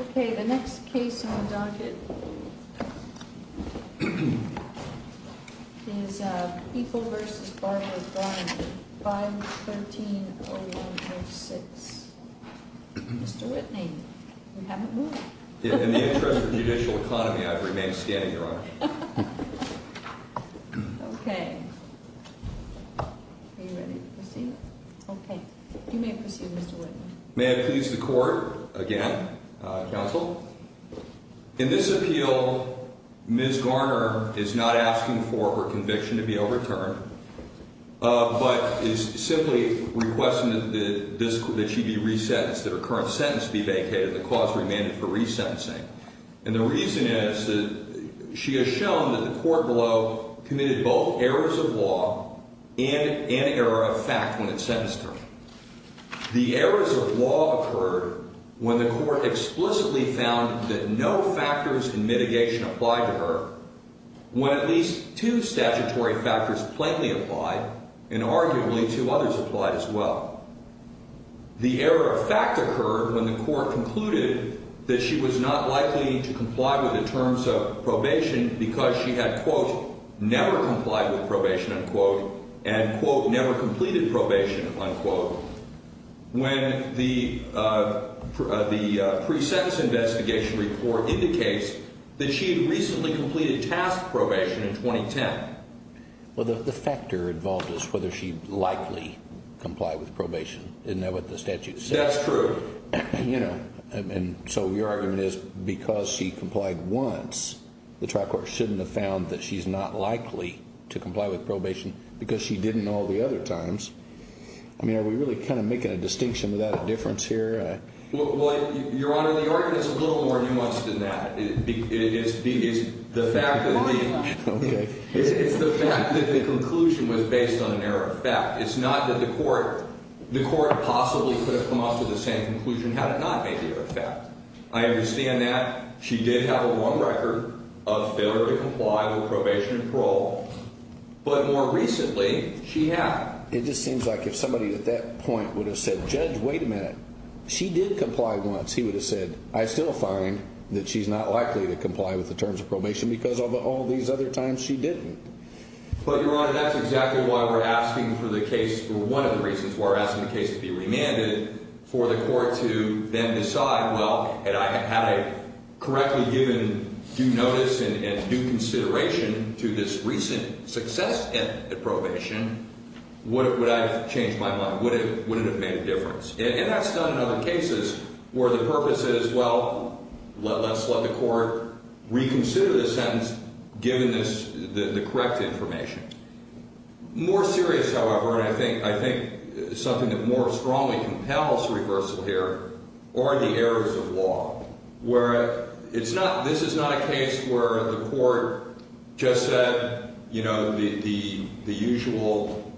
Ok, the next case on the docket is Bickel v. Garner, 5-13-01-06. Mr. Whitney, you haven't moved. In the interest of judicial economy, I've remained standing, Your Honor. Ok. Are you ready to proceed? Ok. You may proceed, Mr. Whitney. May I please the court, again, counsel? In this appeal, Ms. Garner is not asking for her conviction to be overturned, but is simply requesting that she be resentenced, that her current sentence be vacated, and the cause remanded for resentencing. And the reason is that she has shown that the court below committed both errors of law and an error of fact when it sentenced her. The errors of law occurred when the court explicitly found that no factors in mitigation applied to her, when at least two statutory factors plainly applied, and arguably two others applied as well. The error of fact occurred when the court concluded that she was not likely to comply with the terms of probation because she had, quote, never complied with probation, unquote, and, quote, never completed probation, unquote, when the pre-sentence investigation report indicates that she had recently completed task probation in 2010. Well, the factor involved is whether she likely complied with probation. Isn't that what the statute says? That's true. You know, and so your argument is because she complied once, the trial court shouldn't have found that she's not likely to comply with probation because she didn't all the other times. I mean, are we really kind of making a distinction without a difference here? Well, Your Honor, the argument is a little more nuanced than that. It's the fact that the conclusion was based on an error of fact. It's not that the court possibly could have come up with the same conclusion had it not been error of fact. I understand that. She did have a long record of failure to comply with probation and parole. But more recently, she had. It just seems like if somebody at that point would have said, Judge, wait a minute, she did comply once, he would have said, I still find that she's not likely to comply with the terms of probation because of all these other times she didn't. But, Your Honor, that's exactly why we're asking for the case, or one of the reasons why we're asking the case to be remanded, for the court to then decide, well, had I correctly given due notice and due consideration to this recent success at probation, would I have changed my mind? Would it have made a difference? And that's done in other cases where the purpose is, well, let's let the court reconsider the sentence given the correct information. More serious, however, and I think something that more strongly compels reversal here are the errors of law, where it's not, this is not a case where the court just said, you know, the usual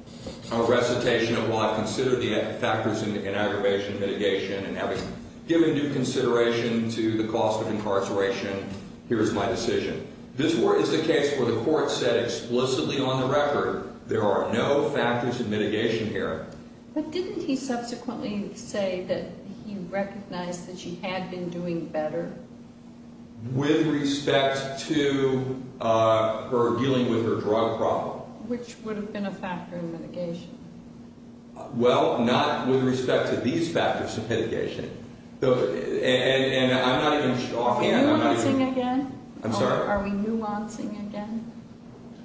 recitation of law, consider the factors in aggravation, mitigation, and having given due consideration to the cost of incarceration, here's my decision. This is a case where the court said explicitly on the record, there are no factors of mitigation here. But didn't he subsequently say that he recognized that she had been doing better? With respect to her dealing with her drug problem. Which would have been a factor in mitigation. Well, not with respect to these factors of mitigation. And I'm not even offhand. Are we nuancing again? I'm sorry? Are we nuancing again?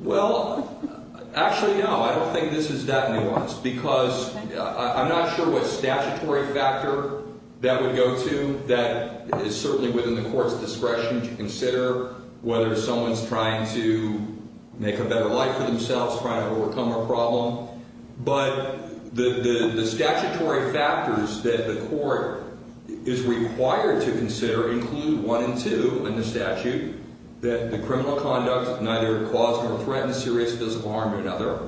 Well, actually, no. I don't think this is that nuanced. Because I'm not sure what statutory factor that would go to that is certainly within the court's discretion to consider whether someone's trying to make a better life for themselves, trying to overcome a problem. But the statutory factors that the court is required to consider include one and two in the statute, that the criminal conduct neither caused nor threatened serious physical harm to another.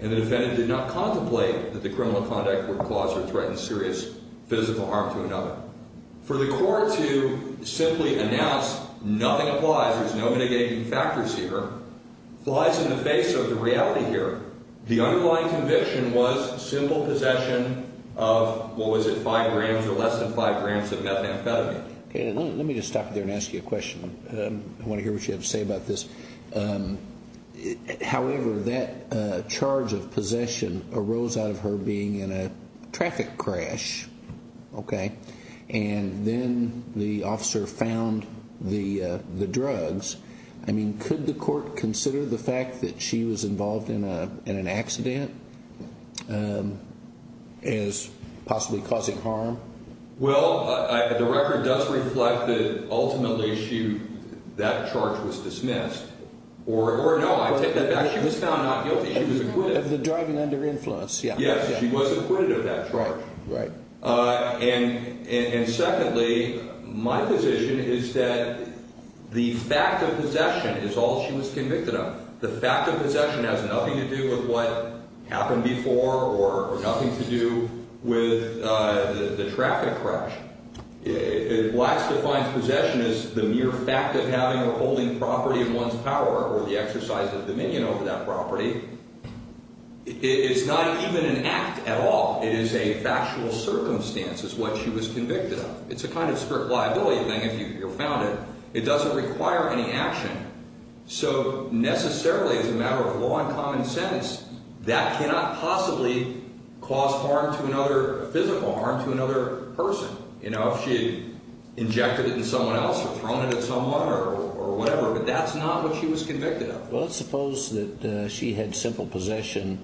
And the defendant did not contemplate that the criminal conduct were caused or threatened serious physical harm to another. For the court to simply announce nothing applies, there's no mitigation factors here, flies in the face of the reality here. The underlying conviction was simple possession of, what was it, five grams or less than five grams of methamphetamine. Okay. Let me just stop you there and ask you a question. I want to hear what you have to say about this. However, that charge of possession arose out of her being in a traffic crash. Okay. And then the officer found the drugs. I mean, could the court consider the fact that she was involved in an accident as possibly causing harm? Well, the record does reflect that ultimately that charge was dismissed. Or, no, I take that back. She was found not guilty. She was acquitted. Of the driving under influence. Yes. She was acquitted of that charge. Right. And secondly, my position is that the fact of possession is all she was convicted of. The fact of possession has nothing to do with what happened before or nothing to do with the traffic crash. Wax defines possession as the mere fact of having or holding property in one's power or the exercise of dominion over that property. It's not even an act at all. It is a factual circumstance, is what she was convicted of. It's a kind of strict liability thing if you're found it. It doesn't require any action. So necessarily, as a matter of law and common sense, that cannot possibly cause physical harm to another person. You know, if she had injected it in someone else or thrown it at someone or whatever. But that's not what she was convicted of. Well, let's suppose that she had simple possession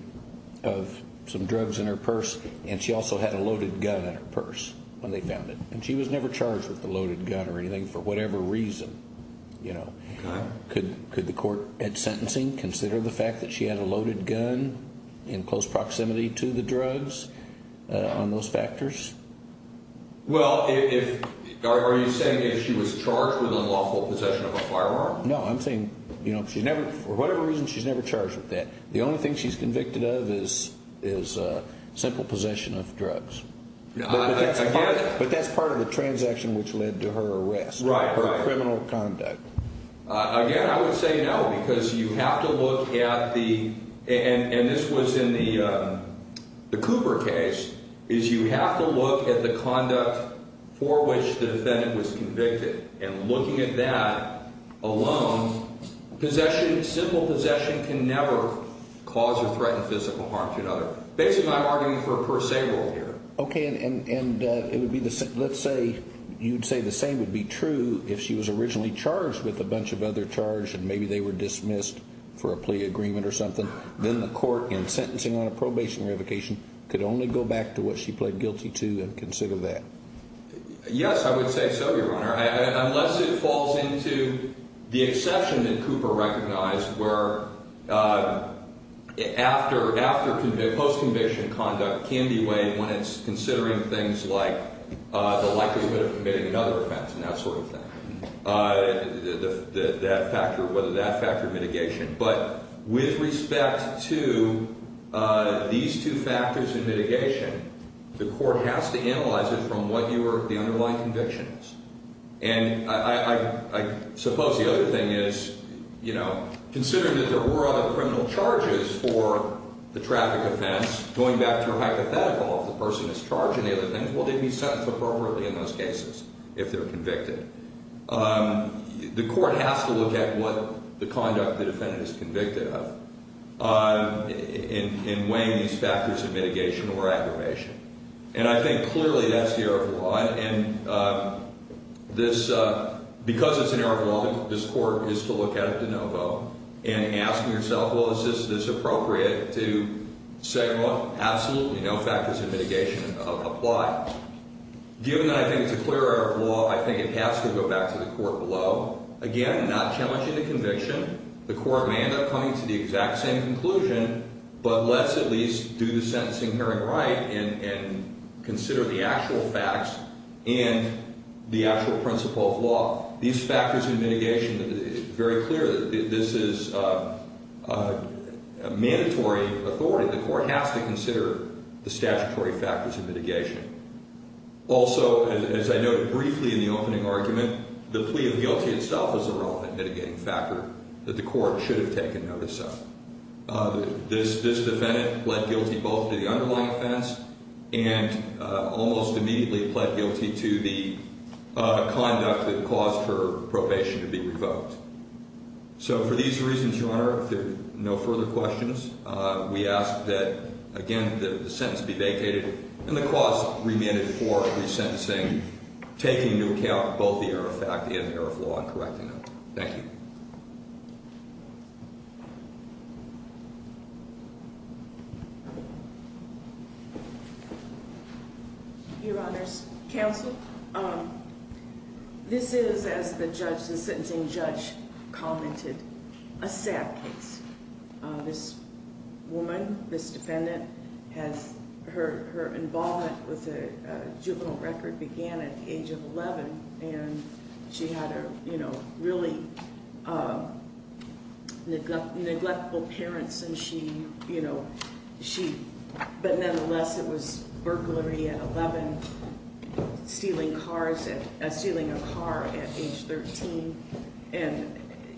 of some drugs in her purse and she also had a loaded gun in her purse when they found it. And she was never charged with a loaded gun or anything for whatever reason. Could the court at sentencing consider the fact that she had a loaded gun in close proximity to the drugs on those factors? Well, are you saying that she was charged with unlawful possession of a firearm? No, I'm saying for whatever reason, she's never charged with that. The only thing she's convicted of is simple possession of drugs. I get it. But that's part of the transaction which led to her arrest, her criminal conduct. Again, I would say no because you have to look at the – and this was in the Cooper case – is you have to look at the conduct for which the defendant was convicted. And looking at that alone, possession, simple possession, can never cause or threaten physical harm to another. Basically, I'm arguing for a per se rule here. Okay, and let's say you'd say the same would be true if she was originally charged with a bunch of other charges and maybe they were dismissed for a plea agreement or something. Then the court, in sentencing on a probation revocation, could only go back to what she pled guilty to and consider that. Yes, I would say so, Your Honor, unless it falls into the exception that Cooper recognized where post-conviction conduct can be weighed when it's considering things like the likelihood of committing another offense and that sort of thing, whether that factored mitigation. But with respect to these two factors of mitigation, the court has to analyze it from what the underlying conviction is. And I suppose the other thing is, you know, considering that there were other criminal charges for the traffic offense, going back to her hypothetical of the person that's charging the other things, will they be sentenced appropriately in those cases if they're convicted? The court has to look at what the conduct the defendant is convicted of in weighing these factors of mitigation or aggravation. And I think clearly that's the error of the law. And because it's an error of the law, this court is to look at it de novo and ask yourself, well, is this appropriate to say, well, absolutely no factors of mitigation apply. Given that I think it's a clear error of the law, I think it has to go back to the court below. Again, not challenging the conviction. The court may end up coming to the exact same conclusion, but let's at least do the sentencing hearing right and consider the actual facts and the actual principle of law. These factors of mitigation, it's very clear that this is a mandatory authority. The court has to consider the statutory factors of mitigation. Also, as I noted briefly in the opening argument, the plea of guilty itself is a relevant mitigating factor that the court should have taken notice of. This defendant pled guilty both to the underlying offense and almost immediately pled guilty to the conduct that caused her probation to be revoked. So for these reasons, Your Honor, if there are no further questions, we ask that, again, the sentence be vacated and the cost remitted for resentencing, taking into account both the error of fact and error of law and correcting it. Thank you. Thank you. Your Honor's counsel, this is, as the sentencing judge commented, a sad case. This woman, this defendant, her involvement with the juvenile record began at the age of 11, and she had really neglectful parents, but nonetheless, it was burglary at 11, stealing a car at age 13.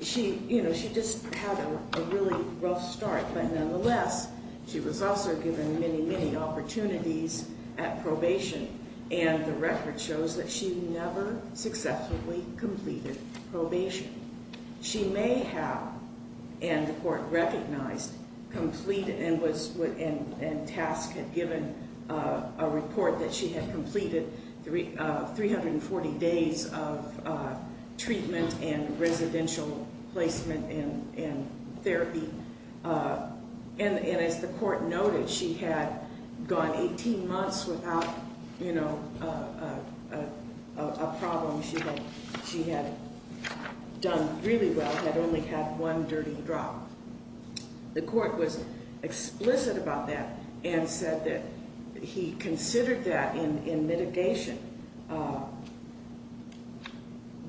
She just had a really rough start, but nonetheless, she was also given many, many opportunities at probation, and the record shows that she never successfully completed probation. She may have, and the court recognized, complete and task had given a report that she had completed 340 days of treatment and residential placement and therapy, and as the court noted, she had gone 18 months without a problem. She had done really well, had only had one dirty drop. The court was explicit about that and said that he considered that in mitigation,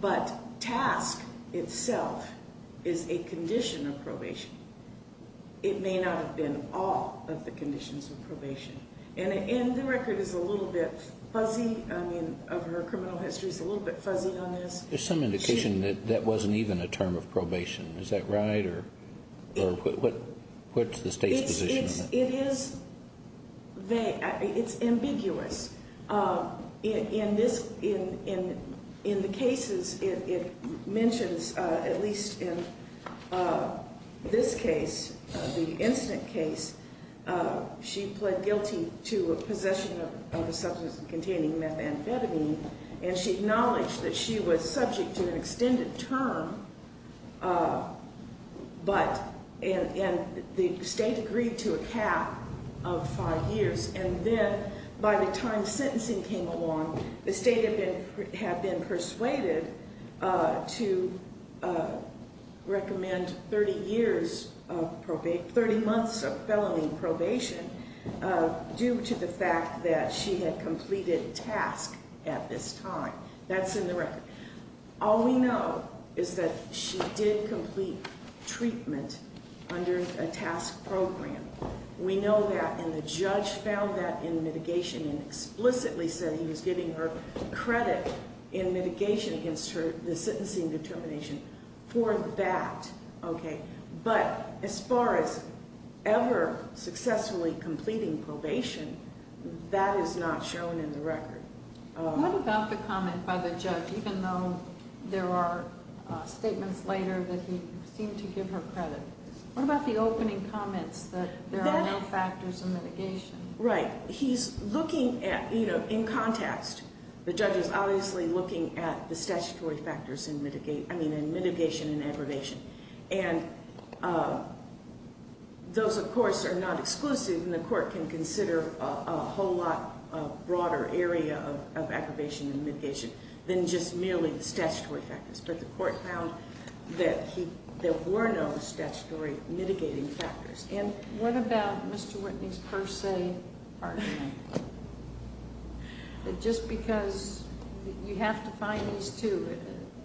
but task itself is a condition of probation. It may not have been all of the conditions of probation, and the record is a little bit fuzzy. I mean, her criminal history is a little bit fuzzy on this. There's some indication that that wasn't even a term of probation. Is that right, or what's the state's position on that? It's ambiguous. In the cases it mentions, at least in this case, the incident case, she pled guilty to possession of a substance containing methamphetamine, and she acknowledged that she was subject to an extended term, and the state agreed to a cap of five years, and then by the time sentencing came along, the state had been persuaded to recommend 30 months of felony probation due to the fact that she had completed task at this time. That's in the record. All we know is that she did complete treatment under a task program. We know that, and the judge found that in mitigation and explicitly said he was giving her credit in mitigation against the sentencing determination for that. But as far as ever successfully completing probation, that is not shown in the record. What about the comment by the judge, even though there are statements later that he seemed to give her credit? What about the opening comments that there are no factors in mitigation? Right. He's looking at, in context, the judge is obviously looking at the statutory factors in mitigation and aggravation, and those, of course, are not exclusive, and the court can consider a whole lot broader area of aggravation and mitigation than just merely the statutory factors, but the court found that there were no statutory mitigating factors. And what about Mr. Whitney's per se pardon? Just because you have to find these two,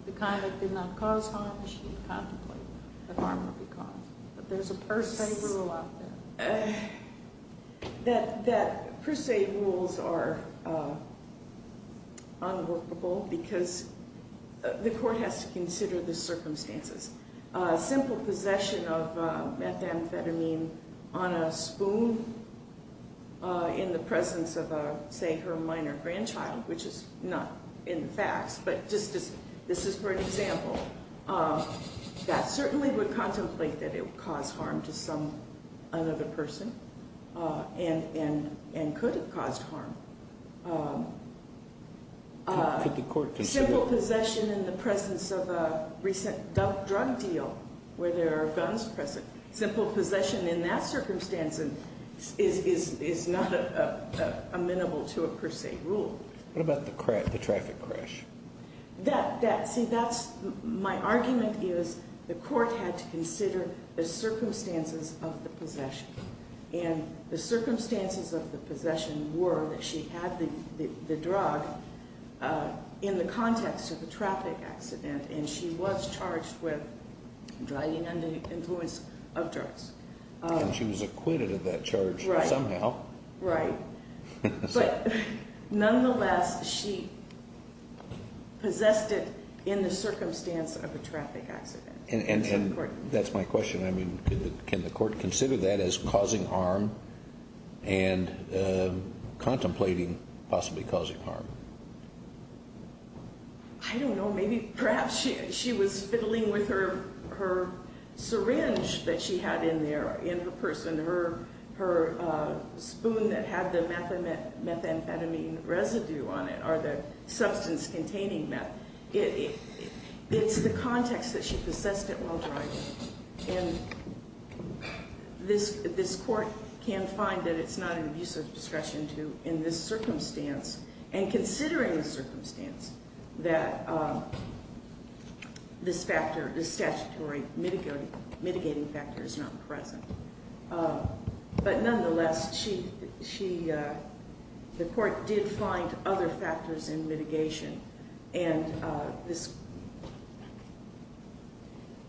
the conduct did not cause harm, she didn't contemplate the harm that would be caused. But there's a per se rule out there. That per se rules are unworkable because the court has to consider the circumstances. Simple possession of methamphetamine on a spoon in the presence of, say, her minor grandchild, which is not in the facts, but this is for an example, that certainly would contemplate that it would cause harm to another person and could have caused harm. Could the court consider? Simple possession in the presence of a recent drug deal, where there are guns present, simple possession in that circumstance is not amenable to a per se rule. What about the traffic crash? See, my argument is the court had to consider the circumstances of the possession. And the circumstances of the possession were that she had the drug in the context of a traffic accident, and she was charged with driving under the influence of drugs. And she was acquitted of that charge somehow. Right. But nonetheless, she possessed it in the circumstance of a traffic accident. And that's my question. I mean, can the court consider that as causing harm and contemplating possibly causing harm? I don't know. Maybe perhaps she was fiddling with her syringe that she had in there, in her purse, in her spoon that had the methamphetamine residue on it or the substance containing that. It's the context that she possessed it while driving. And this court can find that it's not an abuse of discretion to, in this circumstance, and considering the circumstance, that this factor, this statutory mitigating factor is not present. But nonetheless, the court did find other factors in mitigation. And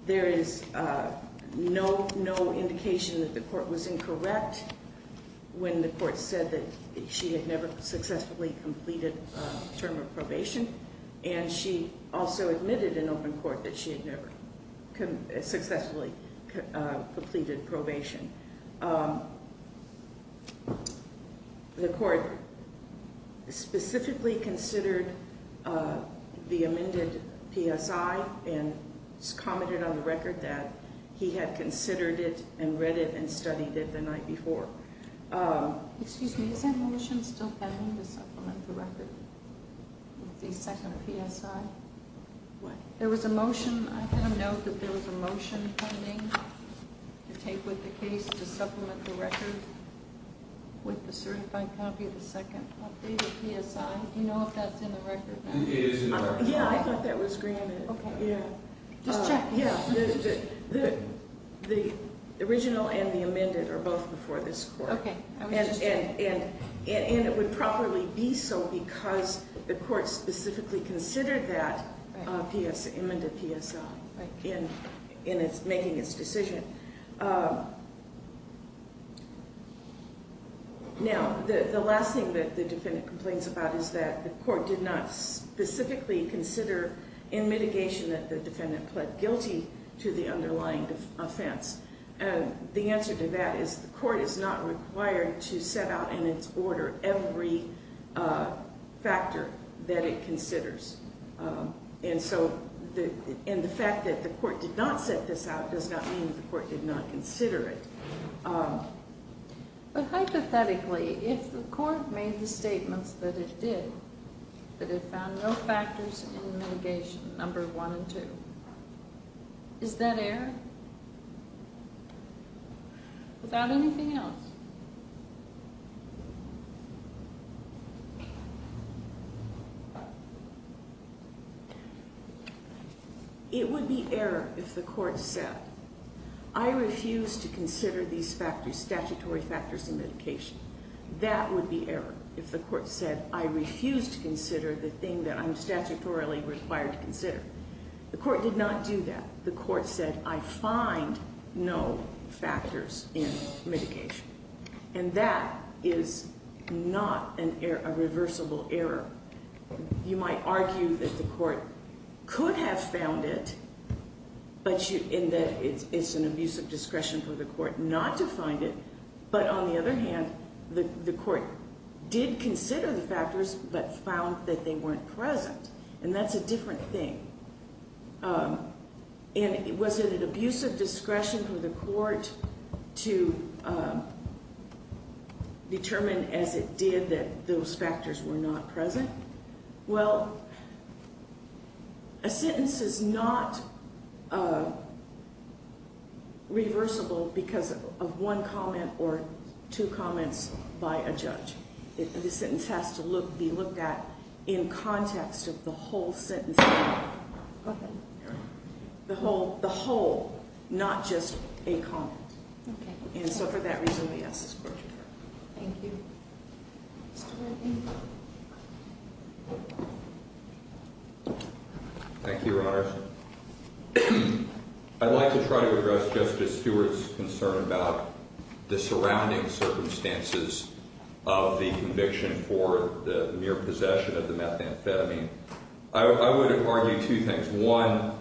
there is no indication that the court was incorrect when the court said that she had never successfully completed a term of probation, and she also admitted in open court that she had never successfully completed probation. The court specifically considered the amended PSI and commented on the record that he had considered it and read it and studied it the night before. Excuse me. Is that motion still pending to supplement the record with the second PSI? What? There was a motion. I have a note that there was a motion pending to take with the case to supplement the record with the certified copy of the second updated PSI. Do you know if that's in the record? It is in the record. Yeah, I thought that was granted. Okay. Just check. Yeah, the original and the amended are both before this court. Okay. And it would properly be so because the court specifically considered that amended PSI in making its decision. Now, the last thing that the defendant complains about is that the court did not specifically consider in mitigation that the defendant pled guilty to the underlying offense. The answer to that is the court is not required to set out in its order every factor that it considers. And so in the fact that the court did not set this out does not mean that the court did not consider it. But hypothetically, if the court made the statements that it did, that it found no factors in mitigation, number one and two, is that error? Without anything else? It would be error if the court said, I refuse to consider these statutory factors in mitigation. That would be error if the court said, I refuse to consider the thing that I'm statutorily required to consider. The court did not do that. The court said, I find no factors in mitigation. And that is not a reversible error. You might argue that the court could have found it in that it's an abuse of discretion for the court not to find it. But on the other hand, the court did consider the factors but found that they weren't present. And that's a different thing. And was it an abuse of discretion for the court to determine, as it did, that those factors were not present? Well, a sentence is not reversible because of one comment or two comments by a judge. The sentence has to be looked at in context of the whole sentence. The whole, not just a comment. And so for that reason, yes, it's controversial. Thank you. Thank you, Your Honors. I'd like to try to address Justice Stewart's concern about the surrounding circumstances of the conviction for the mere possession of the methamphetamine. I would argue two things. One,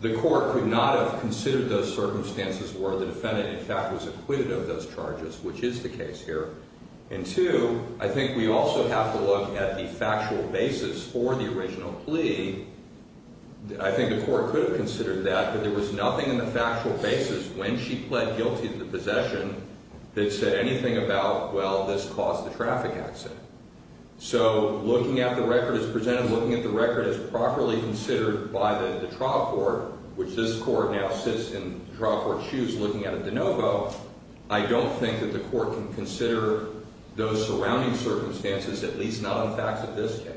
the court could not have considered those circumstances where the defendant, in fact, was acquitted of those charges, which is the case here. And two, I think we also have to look at the factual basis for the original plea. I think the court could have considered that, but there was nothing in the factual basis when she pled guilty to the possession that said anything about, well, this caused the traffic accident. So looking at the record as presented, looking at the record as properly considered by the trial court, which this court now sits in trial court's shoes looking at it de novo, I don't think that the court can consider those surrounding circumstances, at least not in the facts of this case.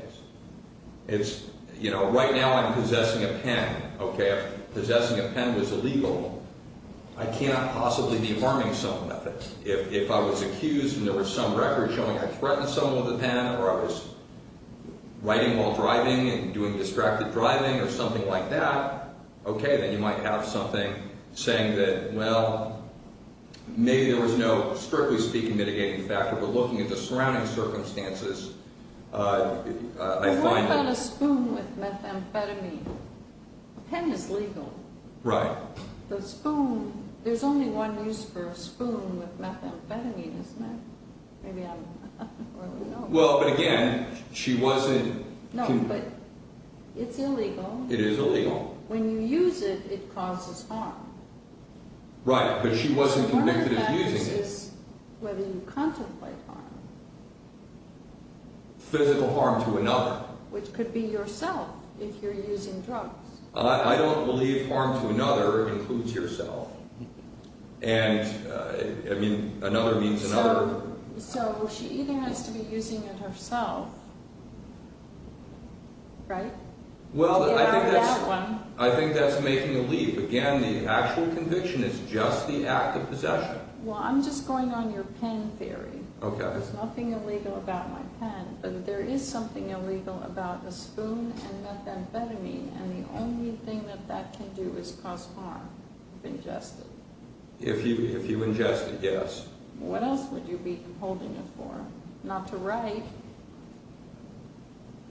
It's, you know, right now I'm possessing a pen, okay? If possessing a pen was illegal, I cannot possibly be harming someone with it. If I was accused and there was some record showing I threatened someone with a pen or I was writing while driving and doing distracted driving or something like that, okay, then you might have something saying that, well, maybe there was no, strictly speaking, mitigating factor. But looking at the surrounding circumstances, I find that... But what about a spoon with methamphetamine? A pen is legal. Right. The spoon, there's only one use for a spoon with methamphetamine, isn't there? Maybe I don't really know. Well, but again, she wasn't... No, but it's illegal. It is illegal. When you use it, it causes harm. Right, but she wasn't convicted of using it. One of the factors is whether you contemplate harm. Physical harm to another. Which could be yourself if you're using drugs. I don't believe harm to another includes yourself. And, I mean, another means another. So she either has to be using it herself, right? Well, I think that's making a leap. Again, the actual conviction is just the act of possession. Well, I'm just going on your pen theory. Okay. There's nothing illegal about my pen, but there is something illegal about a spoon and methamphetamine, and the only thing that that can do is cause harm if ingested. If you ingest it, yes. What else would you be holding it for? Not to write.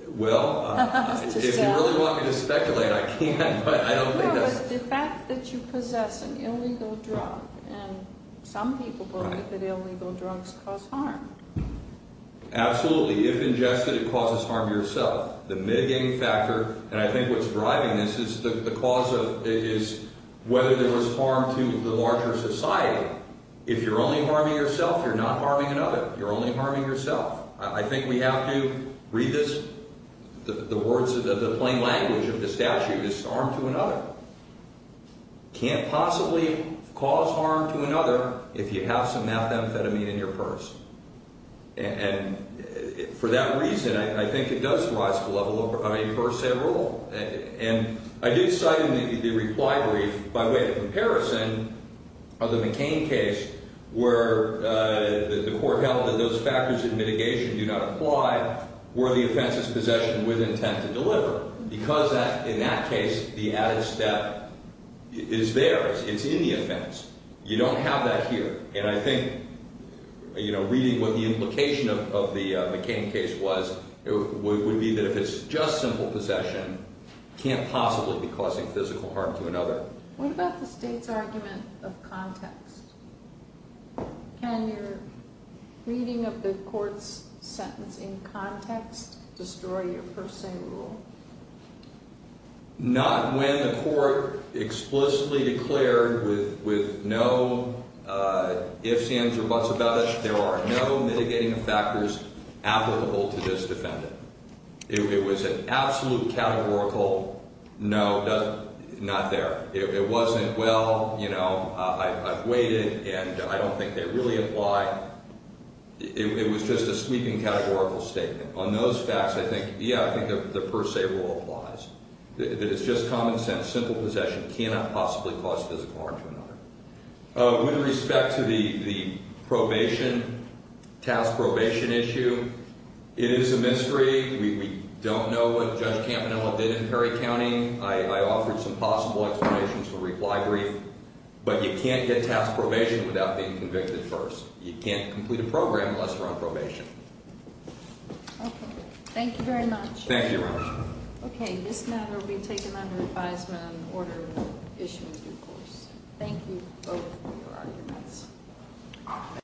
Well, if you really want me to speculate, I can, but I don't think that's... No, it's the fact that you possess an illegal drug, and some people believe that illegal drugs cause harm. Absolutely. If ingested, it causes harm to yourself. The mitigating factor, and I think what's driving this, is whether there was harm to the larger society. If you're only harming yourself, you're not harming another. You're only harming yourself. I think we have to read this. The plain language of the statute is harm to another. You can't possibly cause harm to another if you have some methamphetamine in your purse, and for that reason, I think it does rise to the level of a cursed head rule, and I did cite in the reply brief, by way of comparison of the McCain case, where the court held that those factors of mitigation do not apply where the offense is possession with intent to deliver, because in that case, the added step is there. It's in the offense. You don't have that here, and I think reading what the implication of the McCain case was, it would be that if it's just simple possession, it can't possibly be causing physical harm to another. What about the state's argument of context? Can your reading of the court's sentence in context destroy your purse-saying rule? Not when the court explicitly declared with no ifs, ands, or buts about it, there are no mitigating factors applicable to this defendant. It was an absolute categorical no, not there. It wasn't, well, you know, I've weighed it, and I don't think they really apply. It was just a sweeping categorical statement. On those facts, I think, yeah, I think the purse-say rule applies. It's just common sense. Simple possession cannot possibly cause physical harm to another. With respect to the probation, task probation issue, it is a mystery. We don't know what Judge Campanella did in Perry County. I offered some possible explanations for reply brief, but you can't get task probation without being convicted first. You can't complete a program unless you're on probation. Okay. Thank you very much. Thank you, Your Honor. Okay. This matter will be taken under advisement and order issued in due course. Thank you both for your arguments.